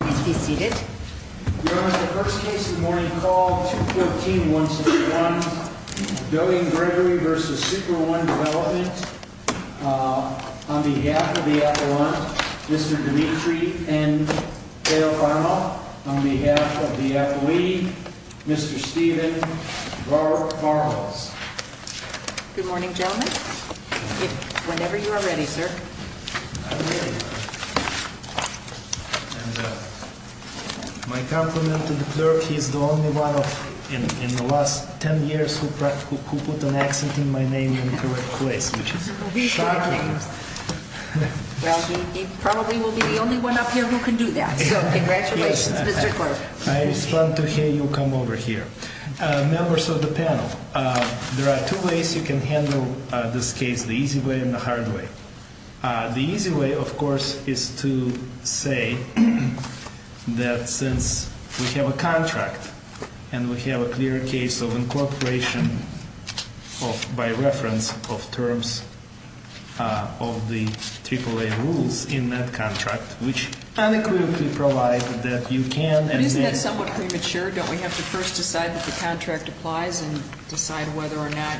On behalf of the Appellant, Mr. Dimitri N. Teofano. On behalf of the Athlete, Mr. Stephen Bartholz. Good morning, gentlemen. Whenever you are ready, sir. My compliment to the clerk, he's the only one in the last ten years who put an accent in my name in the correct place, which is shocking. Well, he probably will be the only one up here who can do that, so congratulations, Mr. Clerk. I respond to hear you come over here. Members of the panel, there are two ways you can handle this case, the easy way and the hard way. The easy way, of course, is to say that since we have a contract and we have a clear case of incorporation by reference of terms of the AAA rules in that contract, which unequivocally provides that you can and may... But isn't that somewhat premature? Don't we have to first decide that the contract applies and decide whether or not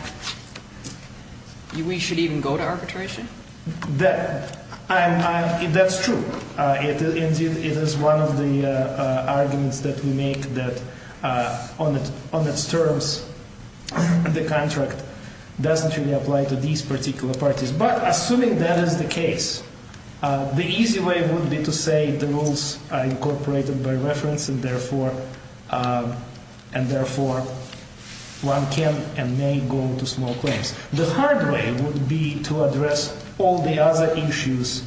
we should even go to arbitration? That's true. It is one of the arguments that we make that on its terms, the contract doesn't really apply to these particular parties. But assuming that is the case, the easy way would be to say the rules are incorporated by reference and, therefore, one can and may go to small claims. The hard way would be to address all the other issues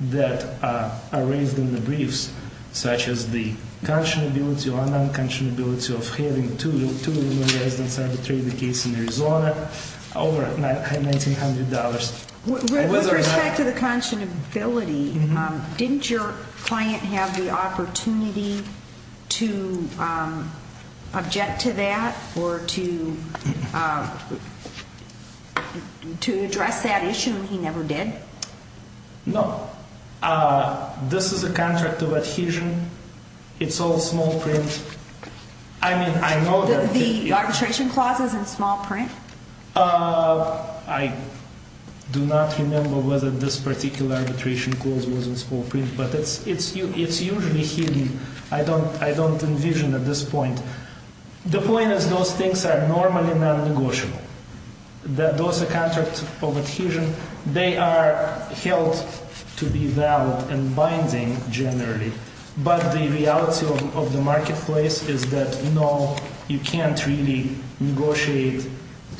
that are raised in the briefs, such as the conscionability or non-conscionability of having two residents arbitrate the case in Arizona over $1,900. With respect to the conscionability, didn't your client have the opportunity to object to that or to address that issue and he never did? No. This is a contract of adhesion. It's all small print. I mean, I know that... The arbitration clause is in small print? I do not remember whether this particular arbitration clause was in small print, but it's usually hidden. I don't envision at this point. The point is those things are normally non-negotiable. Those are contracts of adhesion. They are held to be valid and binding generally, but the reality of the marketplace is that, no, you can't really negotiate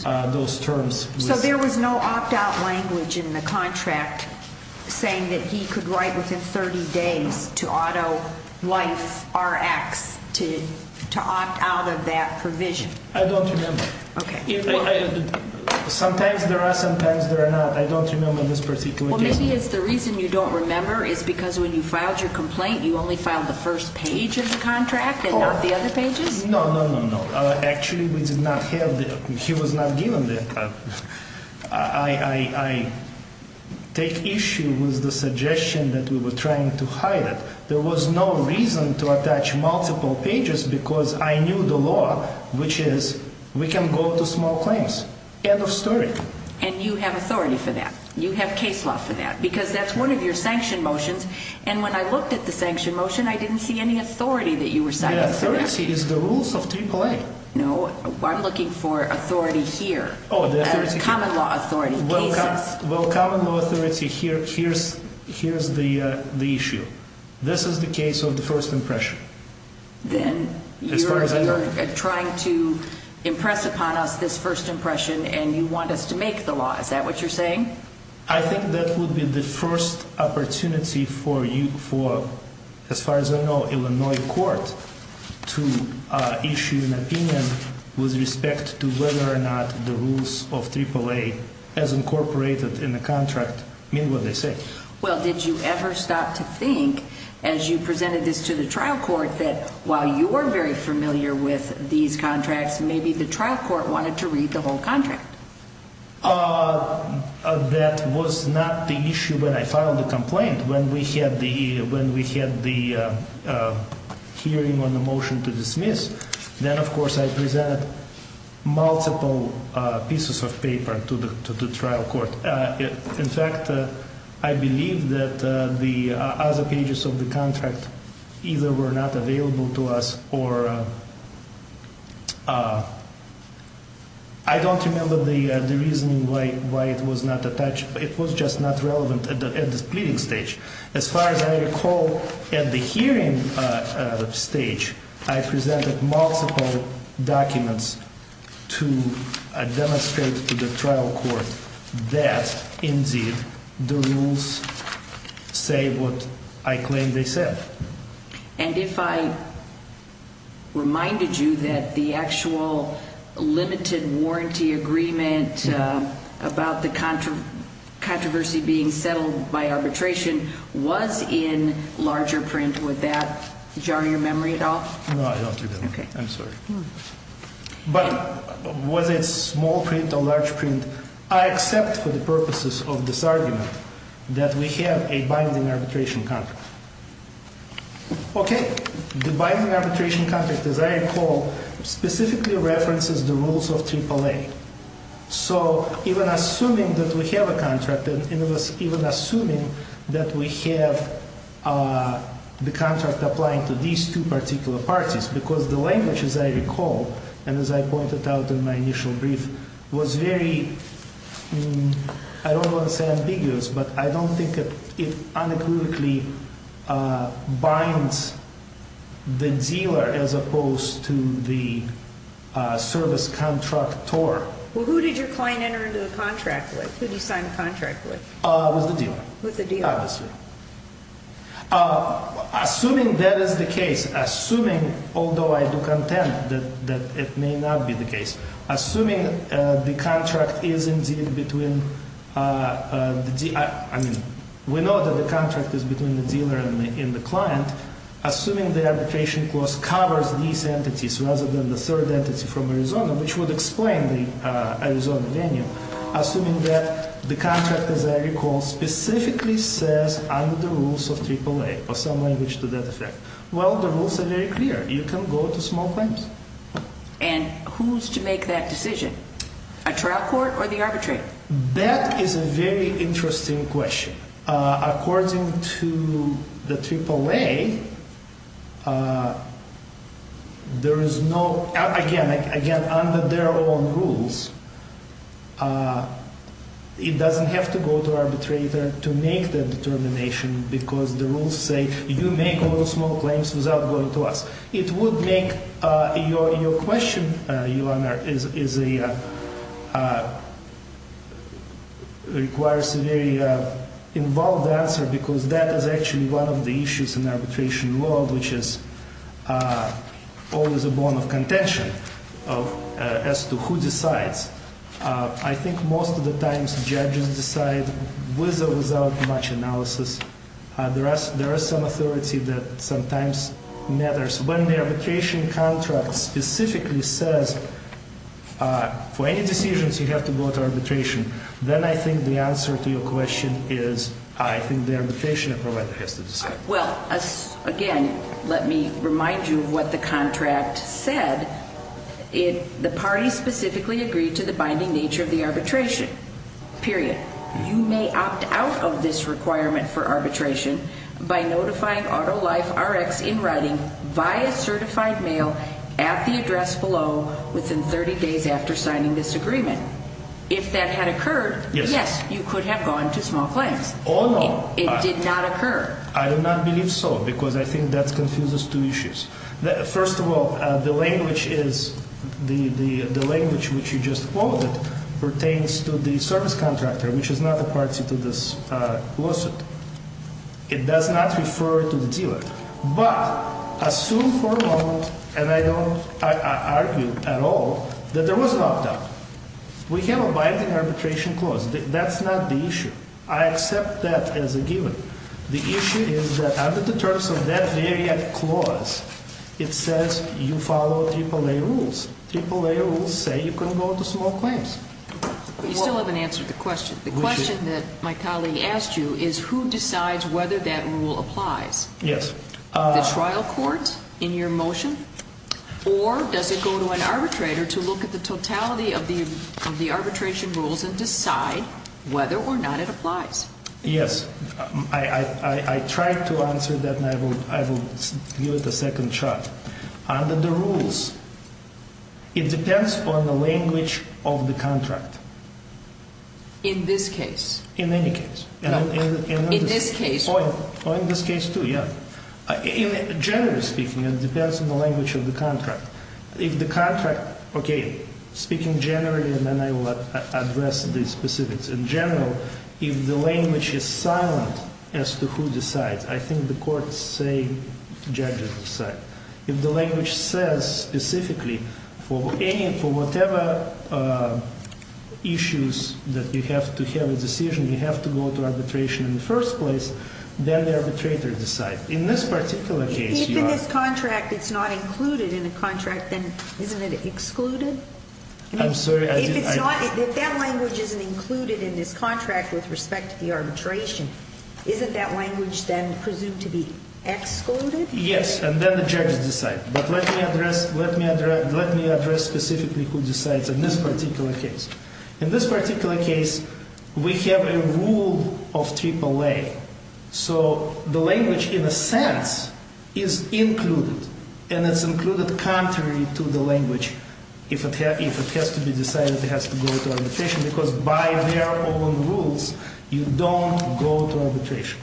those terms. So there was no opt-out language in the contract saying that he could write within 30 days to auto-life Rx to opt out of that provision? I don't remember. Sometimes there are, sometimes there are not. I don't remember in this particular case. Maybe it's the reason you don't remember is because when you filed your complaint, you only filed the first page of the contract and not the other pages? No, no, no, no. Actually, we did not have that. He was not given that. I take issue with the suggestion that we were trying to hide it. There was no reason to attach multiple pages because I knew the law, which is we can go to small claims. End of story. And you have authority for that? You have case law for that? Because that's one of your sanction motions and when I looked at the sanction motion, I didn't see any authority that you were citing for that. Authority is the rules of AAA. No, I'm looking for authority here. Common law authority. Well, common law authority, here's the issue. This is the case of the first impression. Then you're trying to impress upon us this first impression and you want us to make the law. Is that what you're saying? I think that would be the first opportunity for, as far as I know, Illinois court to issue an opinion with respect to whether or not the rules of AAA as incorporated in the contract mean what they say. Well, did you ever stop to think as you presented this to the trial court that while you were very familiar with these contracts, maybe the trial court wanted to read the whole contract? That was not the issue when I filed the complaint. When we had the hearing on the motion to dismiss, then of course I presented multiple pieces of paper to the trial court. In fact, I believe that the other pages of the contract either were not available to us or I don't remember the reason why it was not attached. It was just not relevant at the pleading stage. As far as I recall, at the hearing stage, I presented multiple documents to demonstrate to the trial court that indeed the rules say what I claim they said. And if I reminded you that the actual limited warranty agreement about the controversy being settled by arbitration was in larger print, would that jar your memory at all? No, I don't think so. I'm sorry. But was it small print or large print? I accept for the purposes of this argument that we have a binding arbitration contract. Okay. The binding arbitration contract, as I recall, specifically references the rules of AAA. So even assuming that we have a contract and even assuming that we have the contract applying to these two particular parties, because the language, as I recall, and as I pointed out in my initial brief, was very, I don't want to say ambiguous, but I don't think it unequivocally binds the dealer as opposed to the service contractor. Well, who did your client enter into the contract with? Who did you sign the contract with? With the dealer. With the dealer. Assuming that is the case, assuming, although I do contend that it may not be the case, assuming the contract is indeed between, I mean, we know that the contract is between the dealer and the client. Assuming the arbitration clause covers these entities rather than the third entity from Arizona, which would explain the Arizona venue. Assuming that the contract, as I recall, specifically says under the rules of AAA, or some language to that effect, well, the rules are very clear. You can go to small claims. And who's to make that decision? A trial court or the arbitrator? That is a very interesting question. According to the AAA, there is no, again, under their own rules, it doesn't have to go to arbitrator to make that determination because the rules say you make all the small claims without going to us. It would make your question, Your Honor, is a, requires a very involved answer because that is actually one of the issues in the arbitration world, which is always a bone of contention as to who decides. I think most of the times judges decide with or without much analysis. There is some authority that sometimes matters. When the arbitration contract specifically says for any decisions you have to go to arbitration, then I think the answer to your question is I think the arbitration provider has to decide. Well, again, let me remind you of what the contract said. The party specifically agreed to the binding nature of the arbitration, period. You may opt out of this requirement for arbitration by notifying AutoLifeRx in writing via certified mail at the address below within 30 days after signing this agreement. If that had occurred, yes, you could have gone to small claims. It did not occur. I do not believe so because I think that confuses two issues. First of all, the language is, the language which you just quoted pertains to the service contractor, which is not a party to this lawsuit. It does not refer to the dealer. But assume for a moment, and I don't argue at all, that there was an opt-out. We have a binding arbitration clause. That's not the issue. I accept that as a given. The issue is that under the terms of that very clause, it says you follow AAA rules. AAA rules say you can go to small claims. You still haven't answered the question. The question that my colleague asked you is who decides whether that rule applies. The trial court in your motion? Or does it go to an arbitrator to look at the totality of the arbitration rules and decide whether or not it applies? Yes. I tried to answer that and I will give it a second shot. Under the rules, it depends on the language of the contract. In this case? In any case. In this case? Or in this case too, yeah. Generally speaking, it depends on the language of the contract. If the contract, okay, speaking generally and then I will address the specifics. In general, if the language is silent as to who decides, I think the courts say judges decide. If the language says specifically for whatever issues that you have to have a decision, you have to go to arbitration in the first place, then the arbitrator decides. In this particular case, you are… If in this contract it's not included in the contract, then isn't it excluded? I'm sorry, I didn't… If that language isn't included in this contract with respect to the arbitration, isn't that language then presumed to be excluded? Yes, and then the judges decide. But let me address specifically who decides in this particular case. In this particular case, we have a rule of AAA, so the language in a sense is included and it's included contrary to the language. If it has to be decided, it has to go to arbitration because by their own rules, you don't go to arbitration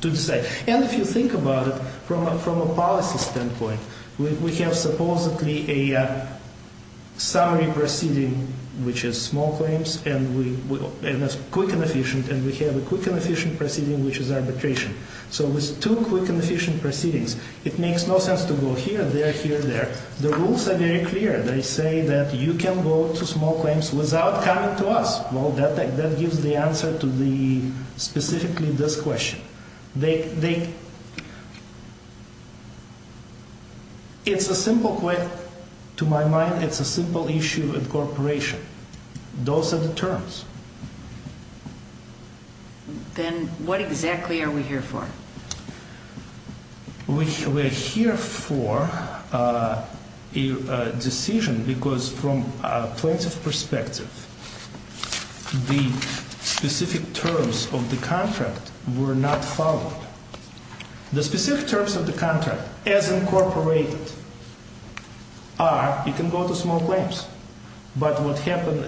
to decide. And if you think about it from a policy standpoint, we have supposedly a summary proceeding, which is small claims, and it's quick and efficient. And we have a quick and efficient proceeding, which is arbitration. So with two quick and efficient proceedings, it makes no sense to go here, there, here, there. The rules are very clear. They say that you can go to small claims without coming to us. Well, that gives the answer to specifically this question. It's a simple question. To my mind, it's a simple issue in cooperation. Those are the terms. Then what exactly are we here for? We are here for a decision because from a plaintiff perspective, the specific terms of the contract were not followed. The specific terms of the contract, as incorporated, are you can go to small claims. But what happened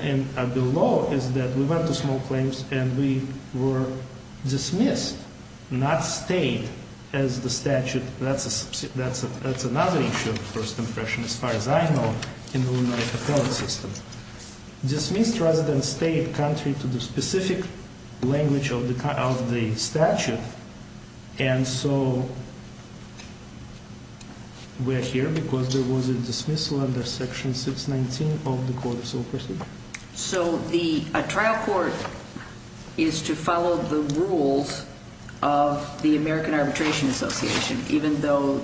below is that we went to small claims and we were dismissed, not stayed as the statute. That's another issue of first impression, as far as I know, in the Illinois appellate system. Dismissed rather than stayed contrary to the specific language of the statute. And so we're here because there was a dismissal under section 619 of the court of sole pursuit. So a trial court is to follow the rules of the American Arbitration Association, even though,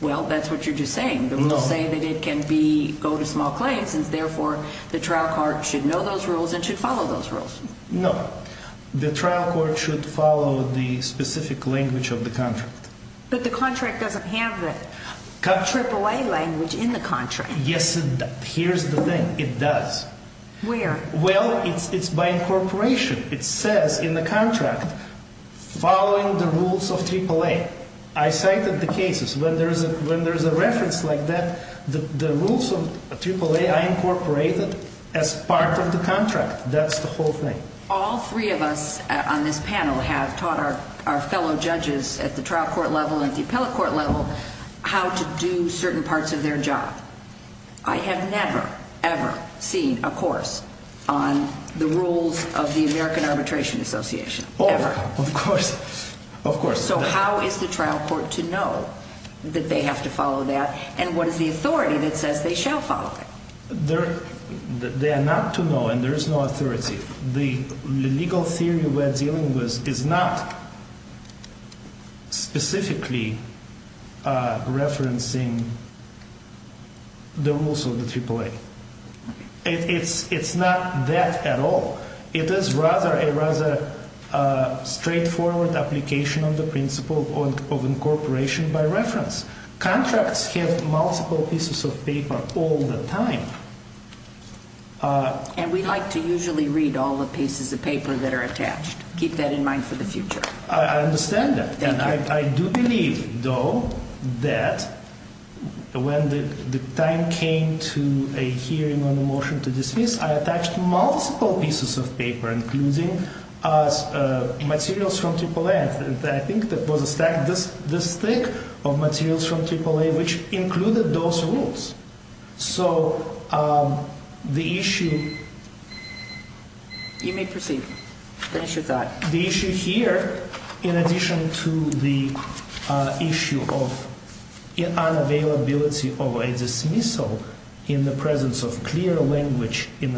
well, that's what you're just saying. No. But we'll say that it can go to small claims, and therefore the trial court should know those rules and should follow those rules. No. The trial court should follow the specific language of the contract. But the contract doesn't have the AAA language in the contract. Yes, it does. Here's the thing. It does. Where? Well, it's by incorporation. It says in the contract, following the rules of AAA. I cited the cases. When there's a reference like that, the rules of AAA I incorporated as part of the contract. That's the whole thing. All three of us on this panel have taught our fellow judges at the trial court level and the appellate court level how to do certain parts of their job. I have never, ever seen a course on the rules of the American Arbitration Association, ever. So how is the trial court to know that they have to follow that, and what is the authority that says they shall follow it? They are not to know, and there is no authority. The legal theory we're dealing with is not specifically referencing the rules of the AAA. It's not that at all. It is rather a straightforward application of the principle of incorporation by reference. Contracts have multiple pieces of paper all the time. And we like to usually read all the pieces of paper that are attached. Keep that in mind for the future. I understand that, and I do believe, though, that when the time came to a hearing on the motion to dismiss, I attached multiple pieces of paper, including materials from AAA. I think there was a stack this thick of materials from AAA which included those rules. So the issue... You may proceed. Finish your thought. The issue here, in addition to the issue of unavailability of a dismissal in the presence of clear language in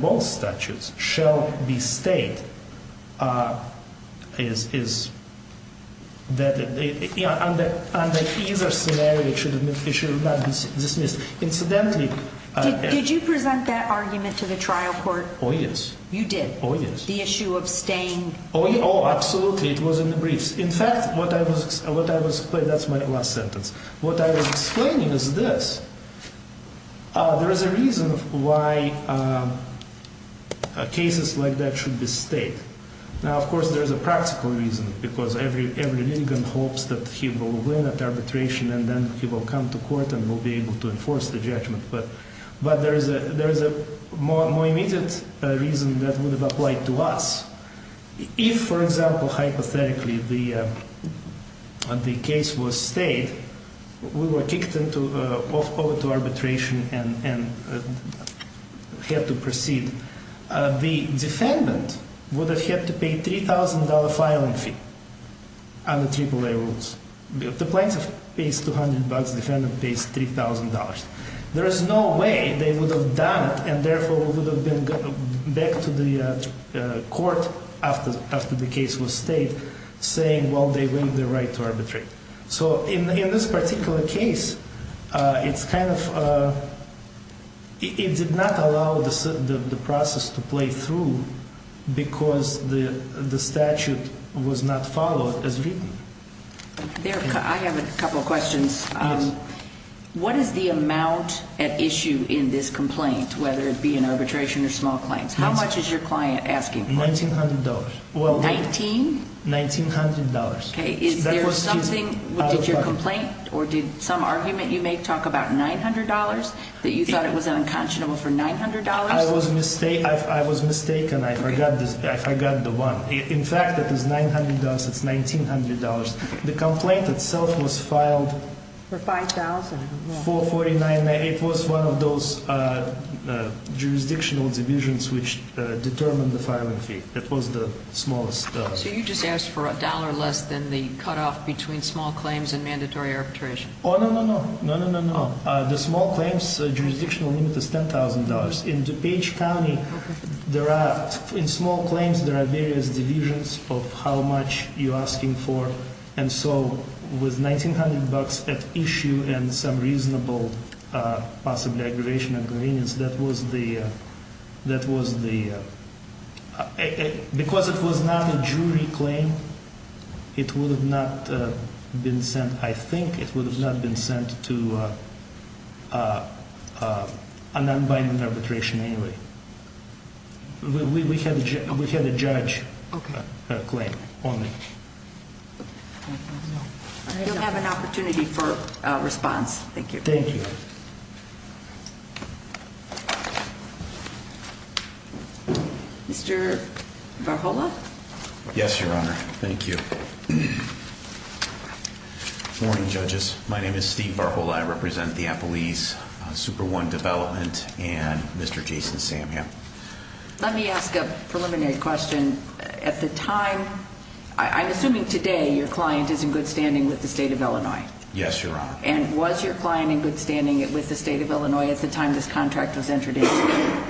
both statutes, shall be stated that under either scenario it should not be dismissed. Incidentally... Did you present that argument to the trial court? Oh, yes. Oh, absolutely. It was in the briefs. In fact, what I was... That's my last sentence. What I was explaining is this. There is a reason why cases like that should be stated. Now, of course, there is a practical reason, because every litigant hopes that he will win at arbitration and then he will come to court and will be able to enforce the judgment. But there is a more immediate reason that would have applied to us. If, for example, hypothetically, the case was stayed, we were kicked over to arbitration and had to proceed, the defendant would have had to pay a $3,000 filing fee under AAA rules. The plaintiff pays $200, the defendant pays $3,000. There is no way they would have done it and therefore would have been back to the court after the case was stayed, saying, well, they win the right to arbitrate. So in this particular case, it's kind of... It did not allow the process to play through because the statute was not followed as written. I have a couple of questions. Yes. What is the amount at issue in this complaint, whether it be an arbitration or small claims? How much is your client asking for? $1,900. $1,900. Did your complaint or did some argument you made talk about $900? That you thought it was unconscionable for $900? I was mistaken. I forgot the one. In fact, it is $900. It's $1,900. The complaint itself was filed... For $5,000. $4,499. It was one of those jurisdictional divisions which determined the filing fee. It was the smallest... So you just asked for a dollar less than the cutoff between small claims and mandatory arbitration. Oh, no, no, no. No, no, no, no. The small claims jurisdictional limit is $10,000. In DuPage County, in small claims, there are various divisions of how much you're asking for. And so with $1,900 at issue and some reasonable possible aggravation agreements, that was the... Because it was not a jury claim, it would have not been sent... We had a judge claim only. You'll have an opportunity for a response. Thank you. Mr. Varhola? Yes, Your Honor. Thank you. Good morning, judges. My name is Steve Varhola. I represent the Applebee's Super One Development and Mr. Jason Samham. Let me ask a preliminary question. At the time... I'm assuming today your client is in good standing with the State of Illinois. Yes, Your Honor. And was your client in good standing with the State of Illinois at the time this contract was entered into?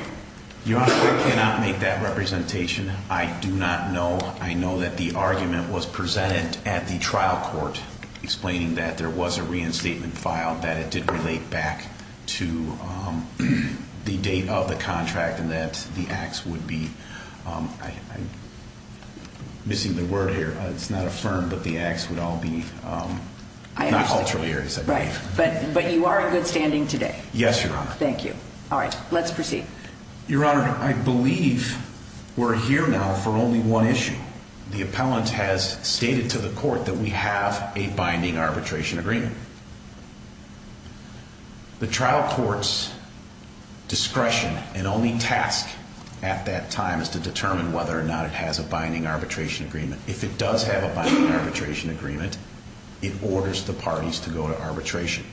Your Honor, I cannot make that representation. I do not know. I know that the argument was presented at the trial court explaining that there was a reinstatement filed, that it did relate back to the date of the contract and that the acts would be... I'm missing the word here. It's not affirmed, but the acts would all be... I understand. Not ulterior, as I believe. Right. But you are in good standing today? Yes, Your Honor. Thank you. All right. Let's proceed. Your Honor, I believe we're here now for only one issue. The appellant has stated to the court that we have a binding arbitration agreement. The trial court's discretion and only task at that time is to determine whether or not it has a binding arbitration agreement. If it does have a binding arbitration agreement, it orders the parties to go to arbitration.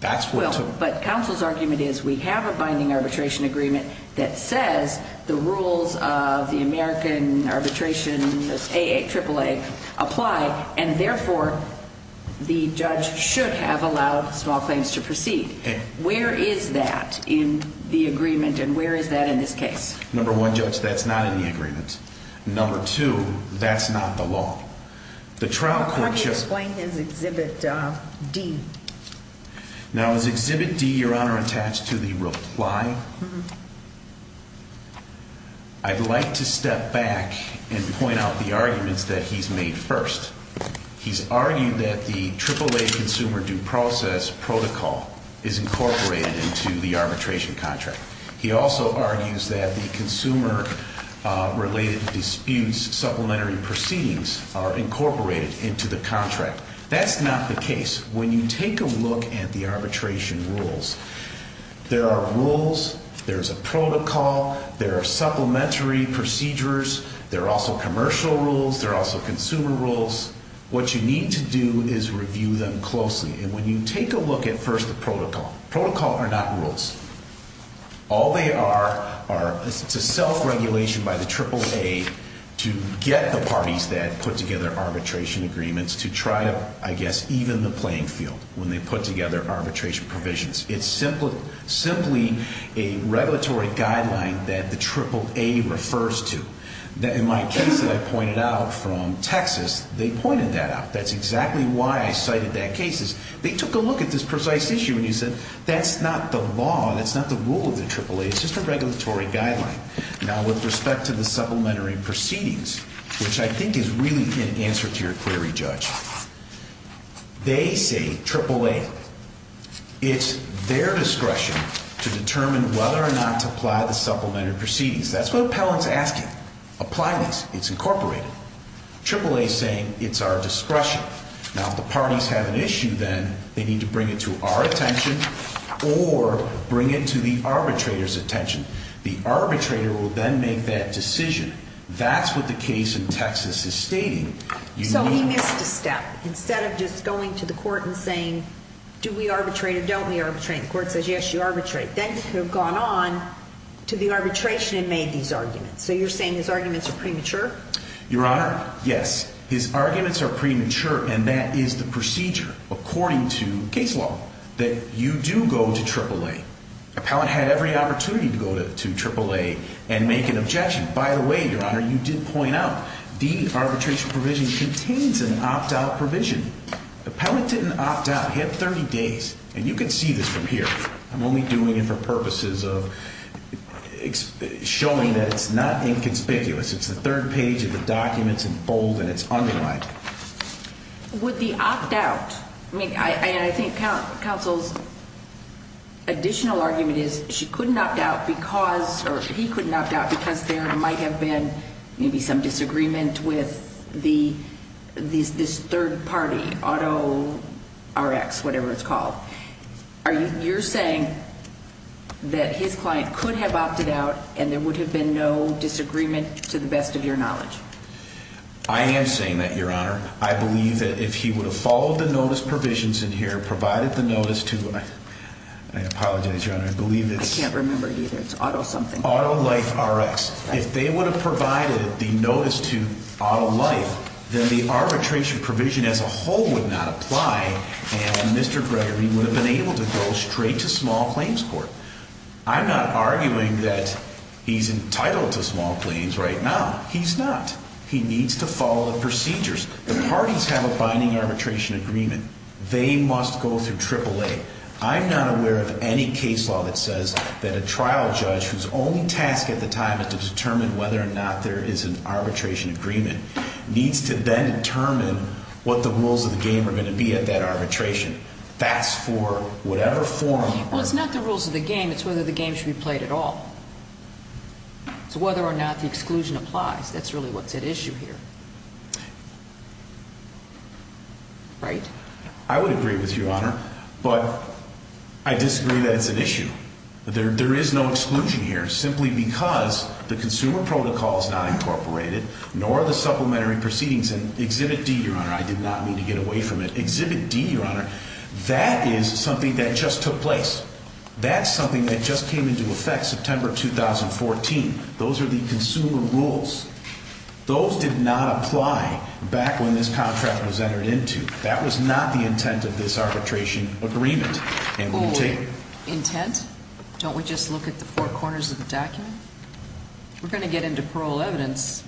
That's what... But counsel's argument is we have a binding arbitration agreement that says the rules of the American arbitration, AA, AAA, apply, and therefore the judge should have allowed small claims to proceed. Where is that in the agreement, and where is that in this case? Number one, Judge, that's not in the agreement. Number two, that's not the law. The trial court... How do you explain his Exhibit D? Now, is Exhibit D, Your Honor, attached to the reply? I'd like to step back and point out the arguments that he's made first. He's argued that the AAA consumer due process protocol is incorporated into the arbitration contract. He also argues that the consumer-related disputes supplementary proceedings are incorporated into the contract. That's not the case. When you take a look at the arbitration rules, there are rules, there's a protocol, there are supplementary procedures, there are also commercial rules, there are also consumer rules. What you need to do is review them closely, and when you take a look at, first, the protocol. Protocol are not rules. All they are is a self-regulation by the AAA to get the parties that put together arbitration agreements to try to, I guess, even the playing field when they put together arbitration provisions. It's simply a regulatory guideline that the AAA refers to. In my case that I pointed out from Texas, they pointed that out. That's exactly why I cited that case. They took a look at this precise issue, and they said, that's not the law, that's not the rule of the AAA. It's just a regulatory guideline. Now, with respect to the supplementary proceedings, which I think is really in answer to your query, Judge, they say AAA, it's their discretion to determine whether or not to apply the supplementary proceedings. That's what Appellant's asking. Apply this. It's incorporated. AAA is saying, it's our discretion. Now, if the parties have an issue, then they need to bring it to our attention or bring it to the arbitrator's attention. The arbitrator will then make that decision. That's what the case in Texas is stating. So he missed a step. Instead of just going to the court and saying, do we arbitrate or don't we arbitrate? The court says, yes, you arbitrate. Then he could have gone on to the arbitration and made these arguments. So you're saying his arguments are premature? Your Honor, yes. His arguments are premature, and that is the procedure, according to case law, that you do go to AAA. Appellant had every opportunity to go to AAA and make an objection. By the way, Your Honor, you did point out, the arbitration provision contains an opt-out provision. Appellant didn't opt out. He had 30 days. And you can see this from here. I'm only doing it for purposes of showing that it's not inconspicuous. It's the third page of the documents in bold, and it's underlined. With the opt-out, I mean, I think counsel's additional argument is she couldn't opt out because, or he couldn't opt out, because there might have been maybe some disagreement with this third party, auto, RX, whatever it's called. You're saying that his client could have opted out, and there would have been no disagreement, to the best of your knowledge? I am saying that, Your Honor. I believe that if he would have followed the notice provisions in here, provided the notice to, I apologize, Your Honor, I believe it's... I can't remember either. It's auto something. Auto life RX. If they would have provided the notice to auto life, then the arbitration provision as a whole would not apply, and Mr. Gregory would have been able to go straight to small claims court. I'm not arguing that he's entitled to small claims right now. He's not. He needs to follow the procedures. The parties have a binding arbitration agreement. They must go through AAA. I'm not aware of any case law that says that a trial judge, whose only task at the time is to determine whether or not there is an arbitration agreement, needs to then determine what the rules of the game are going to be at that arbitration. That's for whatever form... Well, it's not the rules of the game. It's whether the game should be played at all. So whether or not the exclusion applies, that's really what's at issue here. Right? I would agree with you, Your Honor, but I disagree that it's an issue. There is no exclusion here simply because the consumer protocol is not incorporated, nor the supplementary proceedings in Exhibit D, Your Honor. I did not mean to get away from it. Exhibit D, Your Honor, that is something that just took place. That's something that just came into effect September 2014. Those are the consumer rules. Those did not apply back when this contract was entered into. That was not the intent of this arbitration agreement. Full intent? Don't we just look at the four corners of the document? We're going to get into parole evidence.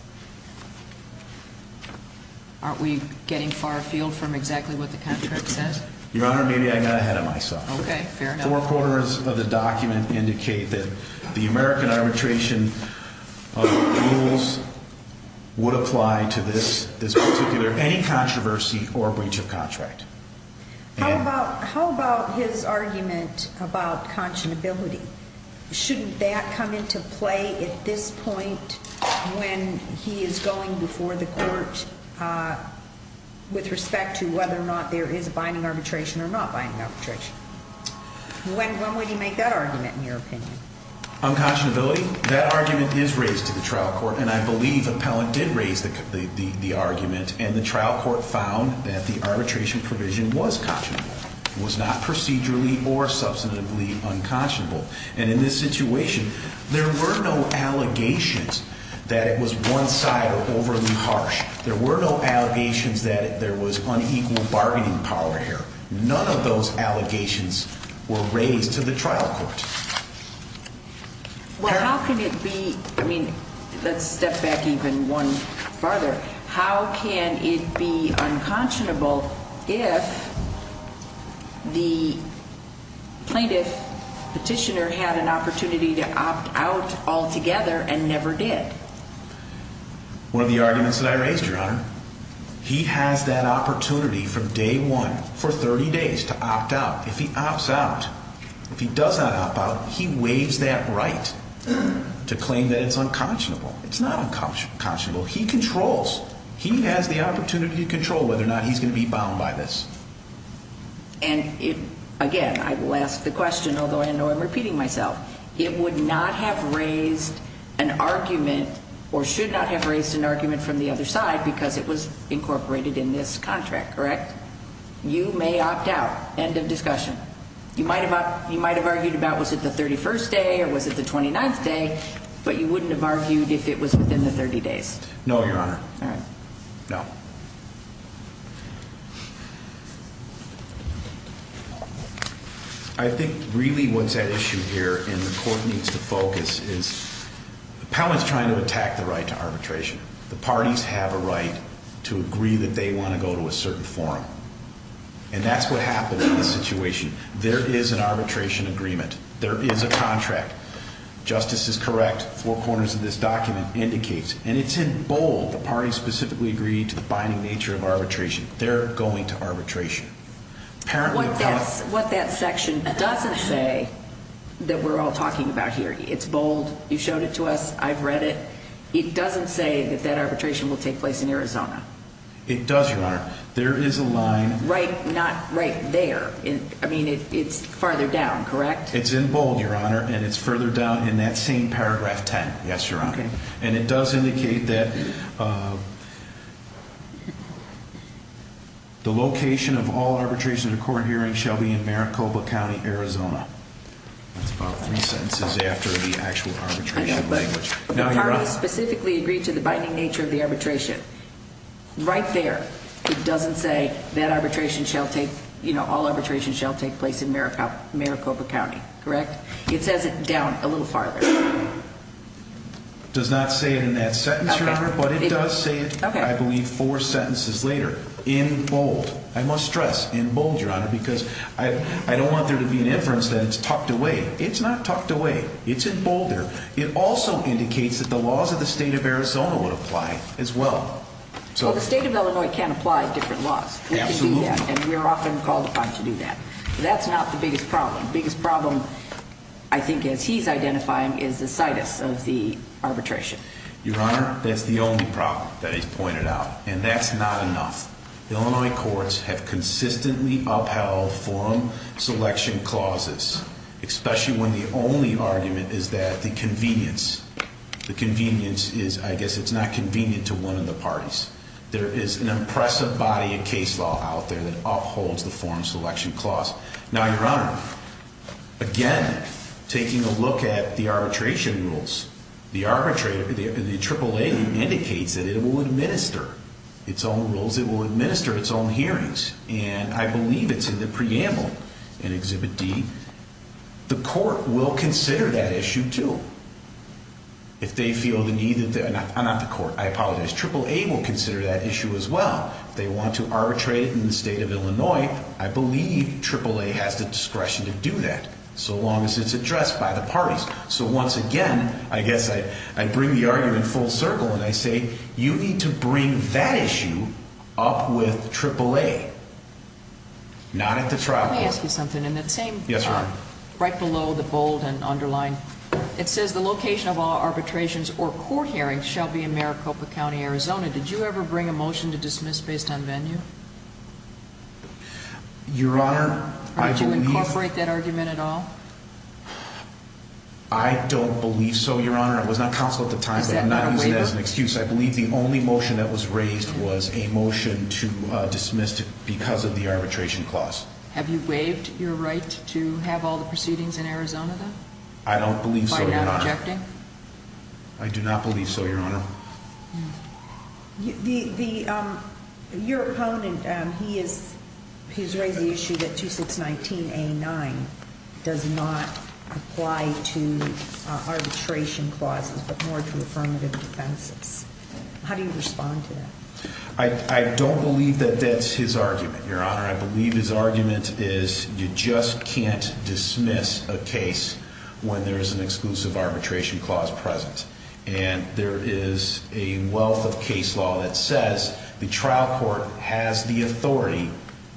Aren't we getting far afield from exactly what the contract says? Your Honor, maybe I got ahead of myself. Okay. Fair enough. Four corners of the document indicate that the American arbitration rules would apply to this particular, any controversy or breach of contract. How about his argument about conscionability? Shouldn't that come into play at this point when he is going before the court with respect to whether or not there is a binding arbitration or not binding arbitration? When would he make that argument, in your opinion? On conscionability? That argument is raised to the trial court, and I believe Appellant did raise the argument. And the trial court found that the arbitration provision was conscionable. It was not procedurally or substantively unconscionable. And in this situation, there were no allegations that it was one-sided or overly harsh. There were no allegations that there was unequal bargaining power here. None of those allegations were raised to the trial court. Well, how can it be? I mean, let's step back even one further. How can it be unconscionable if the plaintiff petitioner had an opportunity to opt out altogether and never did? One of the arguments that I raised, Your Honor, he has that opportunity from day one for 30 days to opt out. If he opts out, if he does not opt out, he waives that right to claim that it's unconscionable. It's not unconscionable. He controls. He has the opportunity to control whether or not he's going to be bound by this. And again, I will ask the question, although I know I'm repeating myself. It would not have raised an argument or should not have raised an argument from the other side because it was incorporated in this contract, correct? You may opt out. End of discussion. You might have argued about was it the 31st day or was it the 29th day, but you wouldn't have argued if it was within the 30 days. No, Your Honor. No. I think really what's at issue here and the court needs to focus is the appellant's trying to attack the right to arbitration. The parties have a right to agree that they want to go to a certain forum. And that's what happened in this situation. There is an arbitration agreement. There is a contract. Justice is correct. Four corners of this document indicates, and it's in bold, the parties specifically agreed to the binding nature of arbitration. They're going to arbitration. What that section doesn't say that we're all talking about here, it's bold. You showed it to us. I've read it. It doesn't say that that arbitration will take place in Arizona. It does, Your Honor. There is a line. Right, not right there. I mean, it's farther down, correct? It's in bold, Your Honor, and it's further down in that same paragraph 10. Yes, Your Honor. And it does indicate that the location of all arbitration at a court hearing shall be in Maricopa County, Arizona. That's about three sentences after the actual arbitration language. The parties specifically agreed to the binding nature of the arbitration. Right there, it doesn't say that arbitration shall take, you know, all arbitration shall take place in Maricopa County, correct? It says it down a little farther. It does not say it in that sentence, Your Honor, but it does say it, I believe, four sentences later in bold. I must stress in bold, Your Honor, because I don't want there to be an inference that it's tucked away. It's not tucked away. It's in bolder. It also indicates that the laws of the state of Arizona would apply as well. Well, the state of Illinois can apply different laws. Absolutely. And we are often called upon to do that. That's not the biggest problem. The biggest problem, I think, as he's identifying, is the situs of the arbitration. Your Honor, that's the only problem that he's pointed out, and that's not enough. Illinois courts have consistently upheld forum selection clauses, especially when the only argument is that the convenience, the convenience is, I guess, it's not convenient to one of the parties. There is an impressive body of case law out there that upholds the forum selection clause. Now, Your Honor, again, taking a look at the arbitration rules, the AAA indicates that it will administer its own rules. It will administer its own hearings, and I believe it's in the preamble in Exhibit D. The court will consider that issue, too, if they feel the need. I'm not the court. I apologize. AAA will consider that issue as well. If they want to arbitrate it in the state of Illinois, I believe AAA has the discretion to do that, so long as it's addressed by the parties. So, once again, I guess I bring the argument full circle, and I say you need to bring that issue up with AAA, not at the trial court. Let me ask you something. Yes, Your Honor. Right below the bold and underlined, it says the location of all arbitrations or court hearings shall be in Maricopa County, Arizona. Did you ever bring a motion to dismiss based on venue? Your Honor, I believe... Did you incorporate that argument at all? I don't believe so, Your Honor. I was not counsel at the time, but I'm not using that as an excuse. Is that not a waiver? I believe the only motion that was raised was a motion to dismiss because of the arbitration clause. Have you waived your right to have all the proceedings in Arizona, then? I don't believe so, Your Honor. Why are you not objecting? I do not believe so, Your Honor. Your opponent, he's raised the issue that 2619A9 does not apply to arbitration clauses, but more to affirmative defenses. How do you respond to that? I don't believe that that's his argument, Your Honor. I believe his argument is you just can't dismiss a case when there is an exclusive arbitration clause present. And there is a wealth of case law that says the trial court has the authority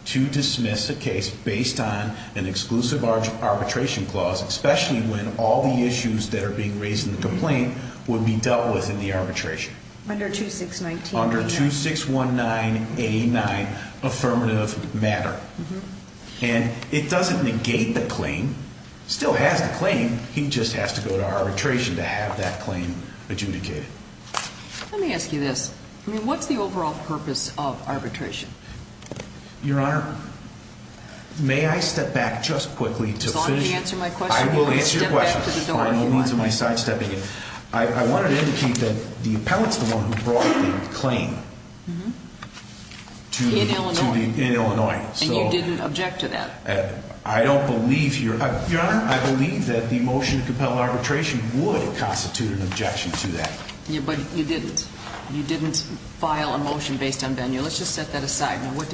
to dismiss a case based on an exclusive arbitration clause, especially when all the issues that are being raised in the complaint would be dealt with in the arbitration. Under 2619A9? Under 2619A9, affirmative matter. And it doesn't negate the claim. It still has the claim. He just has to go to arbitration to have that claim adjudicated. Let me ask you this. I mean, what's the overall purpose of arbitration? Your Honor, may I step back just quickly to finish? As long as you answer my question, you can step back to the door if you want. I will answer your question, by no means am I sidestepping it. I wanted to indicate that the appellant is the one who brought the claim to the, in Illinois. And you didn't object to that? I don't believe, Your Honor, I believe that the motion to compel arbitration would constitute an objection to that. Yeah, but you didn't. You didn't file a motion based on venue. Let's just set that aside. Would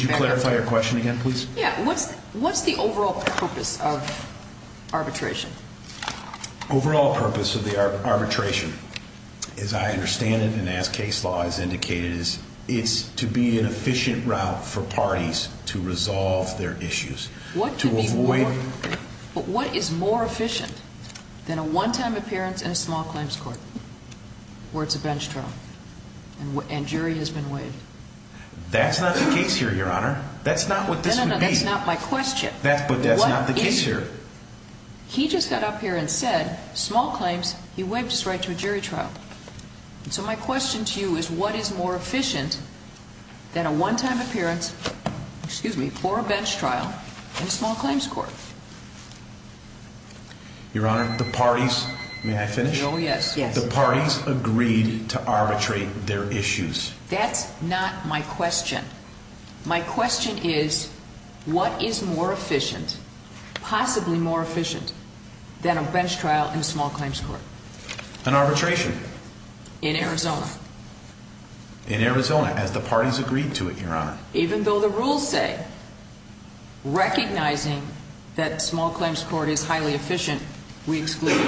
you clarify your question again, please? Yeah, what's the overall purpose of arbitration? Overall purpose of the arbitration, as I understand it and as case law has indicated, is to be an efficient route for parties to resolve their issues. But what is more efficient than a one-time appearance in a small claims court where it's a bench trial and jury has been waived? That's not the case here, Your Honor. That's not what this would be. No, no, no, that's not my question. But that's not the case here. He just got up here and said small claims, he waived his right to a jury trial. So my question to you is what is more efficient than a one-time appearance, excuse me, for a bench trial in a small claims court? Your Honor, the parties, may I finish? Oh, yes, yes. The parties agreed to arbitrate their issues. That's not my question. My question is what is more efficient, possibly more efficient, than a bench trial in a small claims court? An arbitration. In Arizona. In Arizona, as the parties agreed to it, Your Honor. Even though the rules say, recognizing that small claims court is highly efficient, we exclude.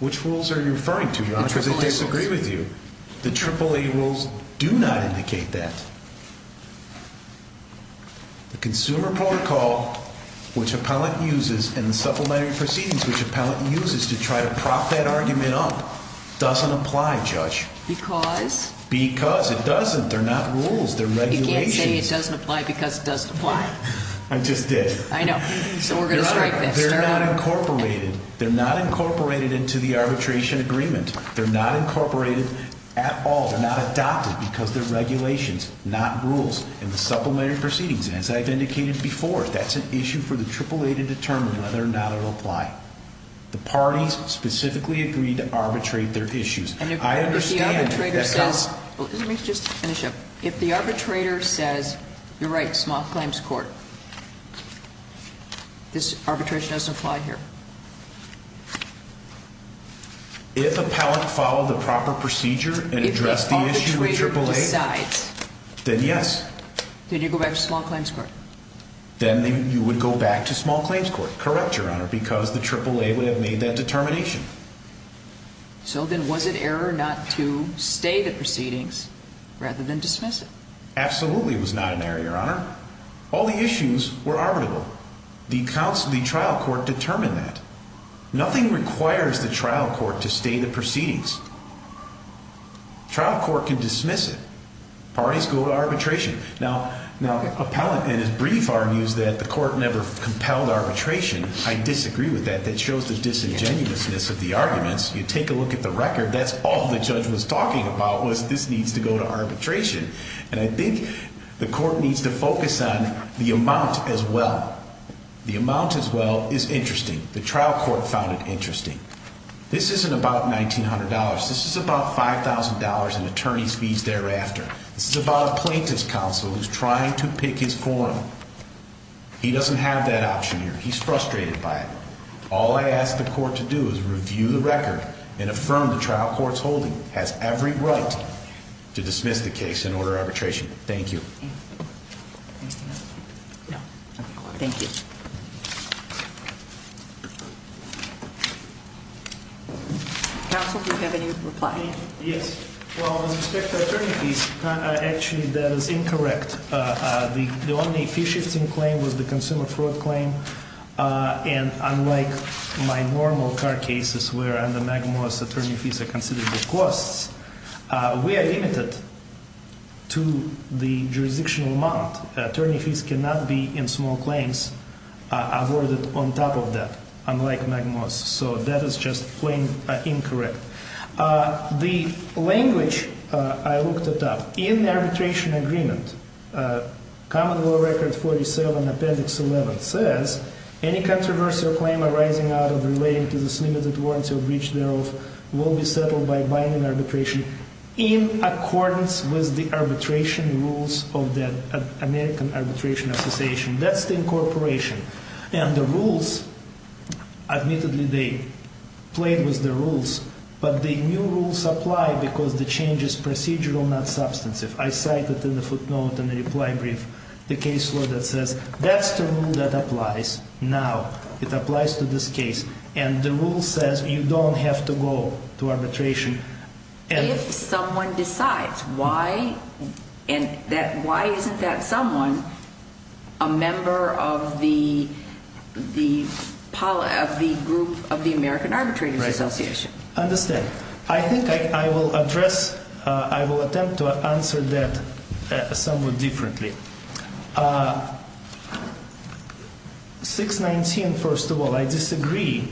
Which rules are you referring to, Your Honor, because I disagree with you. The AAA rules. The AAA rules do not indicate that. The consumer protocol, which appellant uses in the supplementary proceedings, which appellant uses to try to prop that argument up, doesn't apply, Judge. Because? Because. It doesn't. They're not rules. They're regulations. You can't say it doesn't apply because it doesn't apply. I just did. I know. So we're going to strike this. They're not incorporated. They're not incorporated into the arbitration agreement. They're not incorporated at all. They're not adopted because they're regulations, not rules in the supplementary proceedings. And as I've indicated before, that's an issue for the AAA to determine whether or not it'll apply. The parties specifically agreed to arbitrate their issues. And if the arbitrator says... Let me just finish up. If the arbitrator says, you're right, small claims court, this arbitration doesn't apply here. If appellant followed the proper procedure and addressed the issue with AAA... If the arbitrator decides... Then yes. Then you go back to small claims court. Then you would go back to small claims court. Correct, Your Honor, because the AAA would have made that determination. So then was it error not to stay the proceedings rather than dismiss it? Absolutely it was not an error, Your Honor. All the issues were arbitrable. The trial court determined that. Nothing requires the trial court to stay the proceedings. Trial court can dismiss it. Parties go to arbitration. Now appellant in his brief argues that the court never compelled arbitration. I disagree with that. That shows the disingenuousness of the arguments. You take a look at the record, that's all the judge was talking about was this needs to go to arbitration. And I think the court needs to focus on the amount as well. The amount as well is interesting. The trial court found it interesting. This isn't about $1,900. This is about $5,000 in attorney's fees thereafter. This is about a plaintiff's counsel who's trying to pick his forum. He doesn't have that option here. He's frustrated by it. All I ask the court to do is review the record and affirm the trial court's holding has every right to dismiss the case and order arbitration. Thank you. Anything else? No. Thank you. Counsel, do you have any reply? Yes. Well, with respect to attorney fees, actually, that is incorrect. The only fee-shifting claim was the consumer fraud claim. And unlike my normal car cases where under Magmoor's attorney fees are considered the costs, we are limited to the jurisdictional amount. Attorney fees cannot be in small claims awarded on top of that, unlike Magmoor's. So that is just plain incorrect. The language I looked it up. In the arbitration agreement, Common Law Record 47, Appendix 11 says, Any controversy or claim arising out of relating to this limited warranty or breach thereof will be settled by binding arbitration in accordance with the arbitration rules of the American Arbitration Association. That's the incorporation. And the rules, admittedly, they played with the rules, but the new rules apply because the change is procedural, not substantive. I cited in the footnote in the reply brief the case law that says that's the rule that applies now. It applies to this case. And the rule says you don't have to go to arbitration. If someone decides, why isn't that someone a member of the group of the American Arbitration Association? Understand. I think I will address, I will attempt to answer that somewhat differently. 619, first of all, I disagree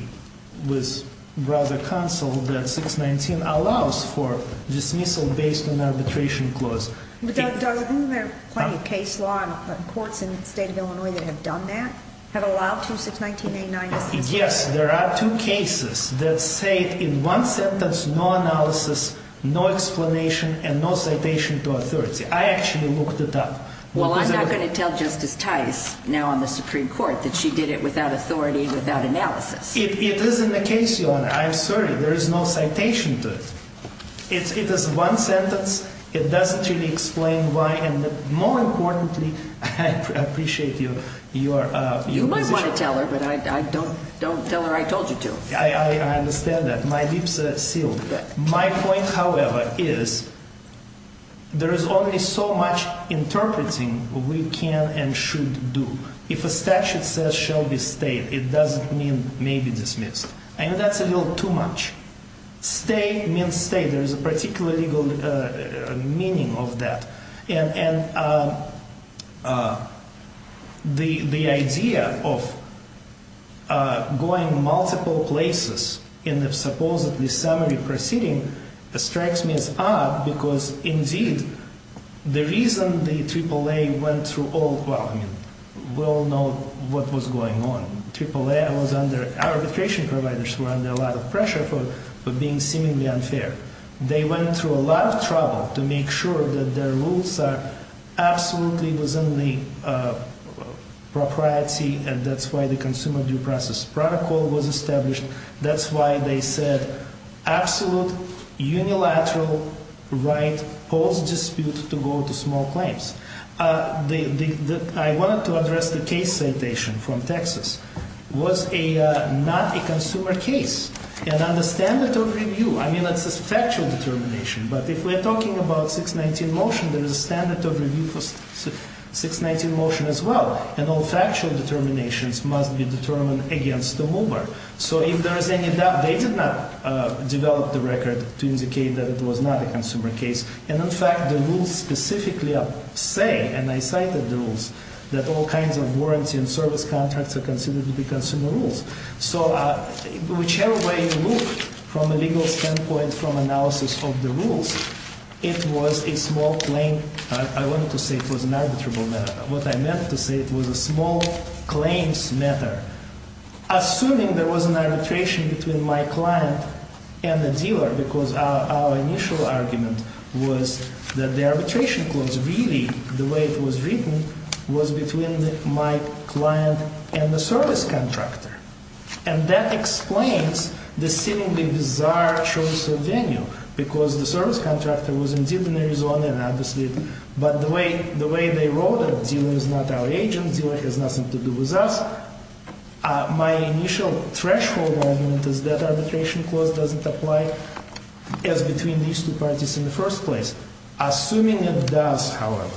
with Brother Counsel that 619 allows for dismissal based on arbitration clause. But, Douglas, isn't there plenty of case law and courts in the state of Illinois that have done that, have allowed for 619-89? Yes, there are two cases that say in one sentence no analysis, no explanation, and no citation to authority. I actually looked it up. Well, I'm not going to tell Justice Tice now on the Supreme Court that she did it without authority, without analysis. It is in the case, Your Honor. I'm sorry. There is no citation to it. It is one sentence. It doesn't really explain why. And more importantly, I appreciate your position. I don't want to tell her, but don't tell her I told you to. I understand that. My lips are sealed. My point, however, is there is only so much interpreting we can and should do. If a statute says shall be stayed, it doesn't mean may be dismissed. I think that's a little too much. Stay means stay. There is a particular legal meaning of that. And the idea of going multiple places in the supposedly summary proceeding strikes me as odd, because indeed the reason the AAA went through all, well, we all know what was going on. AAA was under, our arbitration providers were under a lot of pressure for being seemingly unfair. They went through a lot of trouble to make sure that their rules are absolutely within the propriety, and that's why the Consumer Due Process Protocol was established. That's why they said absolute unilateral right holds dispute to go to small claims. I wanted to address the case citation from Texas. It was not a consumer case. And under standard of review, I mean, it's a factual determination, but if we're talking about 619 motion, there is a standard of review for 619 motion as well. And all factual determinations must be determined against the mover. So if there is any doubt, they did not develop the record to indicate that it was not a consumer case. And in fact, the rules specifically say, and I cited the rules, that all kinds of warranty and service contracts are considered to be consumer rules. So whichever way you look from a legal standpoint from analysis of the rules, it was a small claim, I wanted to say it was an arbitrable matter. What I meant to say, it was a small claims matter. Assuming there was an arbitration between my client and the dealer, because our initial argument was that the arbitration clause really, the way it was written, was between my client and the service contractor. And that explains the seemingly bizarre choice of venue, because the service contractor was indeed in Arizona, but the way they wrote it, dealer is not our agent, dealer has nothing to do with us. My initial threshold argument is that arbitration clause doesn't apply as between these two parties in the first place. Assuming it does, however,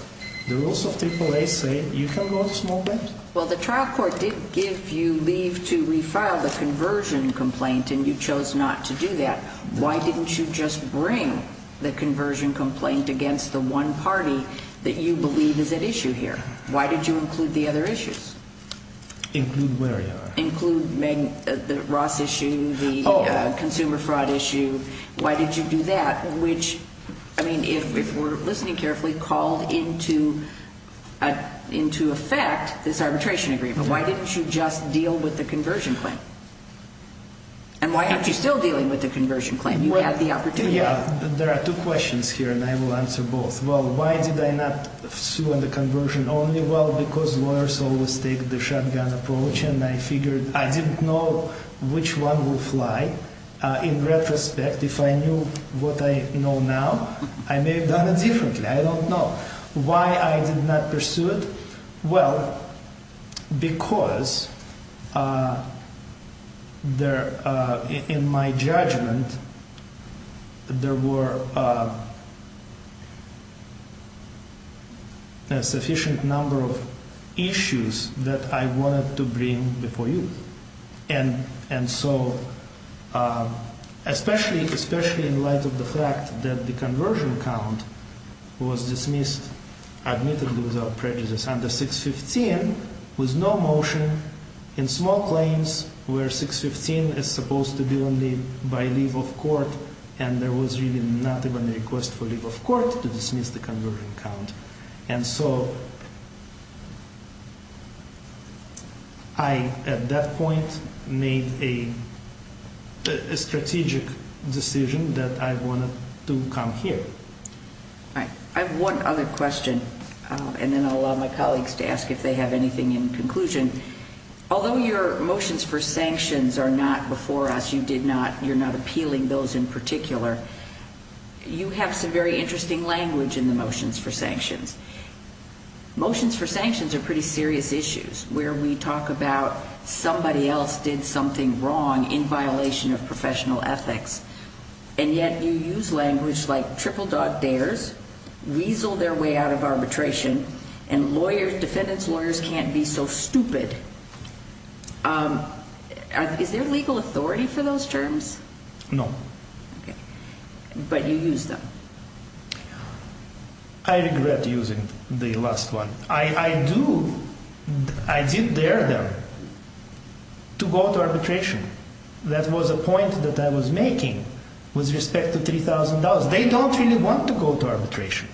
the rules of AAA say you can go to small claims. Well, the trial court did give you leave to refile the conversion complaint, and you chose not to do that. Why didn't you just bring the conversion complaint against the one party that you believe is at issue here? Why did you include the other issues? Include where, Your Honor? Include the Ross issue, the consumer fraud issue. Why did you do that? Which, I mean, if we're listening carefully, called into effect this arbitration agreement. Why didn't you just deal with the conversion claim? And why aren't you still dealing with the conversion claim? You had the opportunity. There are two questions here, and I will answer both. Well, why did I not sue on the conversion only? Well, because lawyers always take the shotgun approach, and I figured I didn't know which one would fly. In retrospect, if I knew what I know now, I may have done it differently. I don't know. Why I did not pursue it? Well, because in my judgment, there were a sufficient number of issues that I wanted to bring before you. And so, especially in light of the fact that the conversion count was dismissed, admittedly without prejudice, under 615, with no motion, in small claims, where 615 is supposed to be only by leave of court, and there was really not even a request for leave of court to dismiss the conversion count. And so, I, at that point, made a strategic decision that I wanted to come here. All right. I have one other question. And then I'll allow my colleagues to ask if they have anything in conclusion. Although your motions for sanctions are not before us, you did not, you're not appealing those in particular, you have some very interesting language in the motions for sanctions. Motions for sanctions are pretty serious issues, where we talk about somebody else did something wrong in violation of professional ethics. And yet, you use language like triple dog dares, weasel their way out of arbitration, and lawyers, defendants' lawyers can't be so stupid. Is there legal authority for those terms? No. But you use them. I regret using the last one. I do, I did dare them to go to arbitration. That was a point that I was making with respect to $3,000. They don't really want to go to arbitration.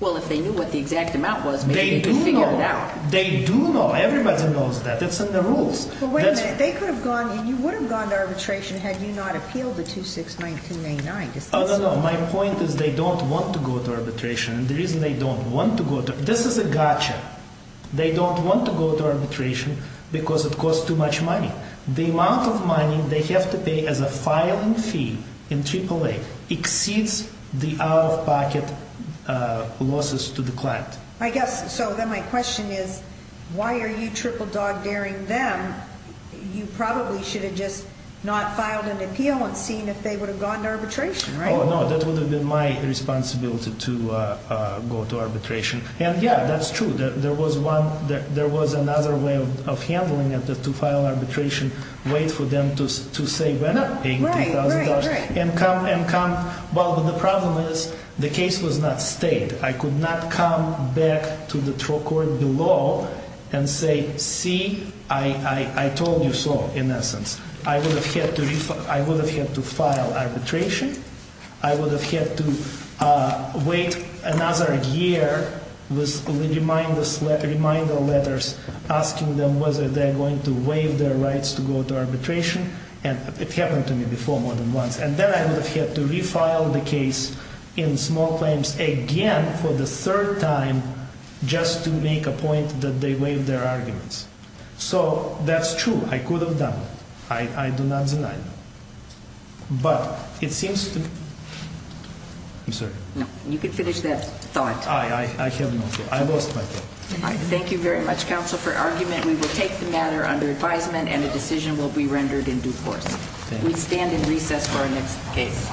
Well, if they knew what the exact amount was, maybe they could figure it out. They do know. They do know. Everybody knows that. That's in the rules. Well, wait a minute. They could have gone, and you would have gone to arbitration had you not appealed the 2619A9. Oh, no, no. My point is they don't want to go to arbitration. And the reason they don't want to go to, this is a gotcha. They don't want to go to arbitration because it costs too much money. The amount of money they have to pay as a filing fee in AAA exceeds the out-of-pocket losses to the client. I guess, so then my question is, why are you triple dog daring them? You probably should have just not filed an appeal and seen if they would have gone to arbitration, right? Oh, no. That would have been my responsibility to go to arbitration. And, yeah, that's true. There was one, there was another way of handling it to file arbitration. Wait for them to say, we're not paying $3,000. Right, right, right. And come, and come, but the problem is the case was not stayed. I could not come back to the court below and say, see, I told you so, in essence. I would have had to file arbitration. I would have had to wait another year with reminder letters asking them whether they're going to waive their rights to go to arbitration. And it happened to me before more than once. And then I would have had to refile the case in small claims again for the third time just to make a point that they waived their arguments. So, that's true. I could have done that. I do not deny that. But, it seems to me. I'm sorry. No, you can finish that thought. I have no thought. I lost my thought. Thank you very much, counsel, for argument. We will take the matter under advisement and a decision will be rendered in due course. We stand in recess for our next case.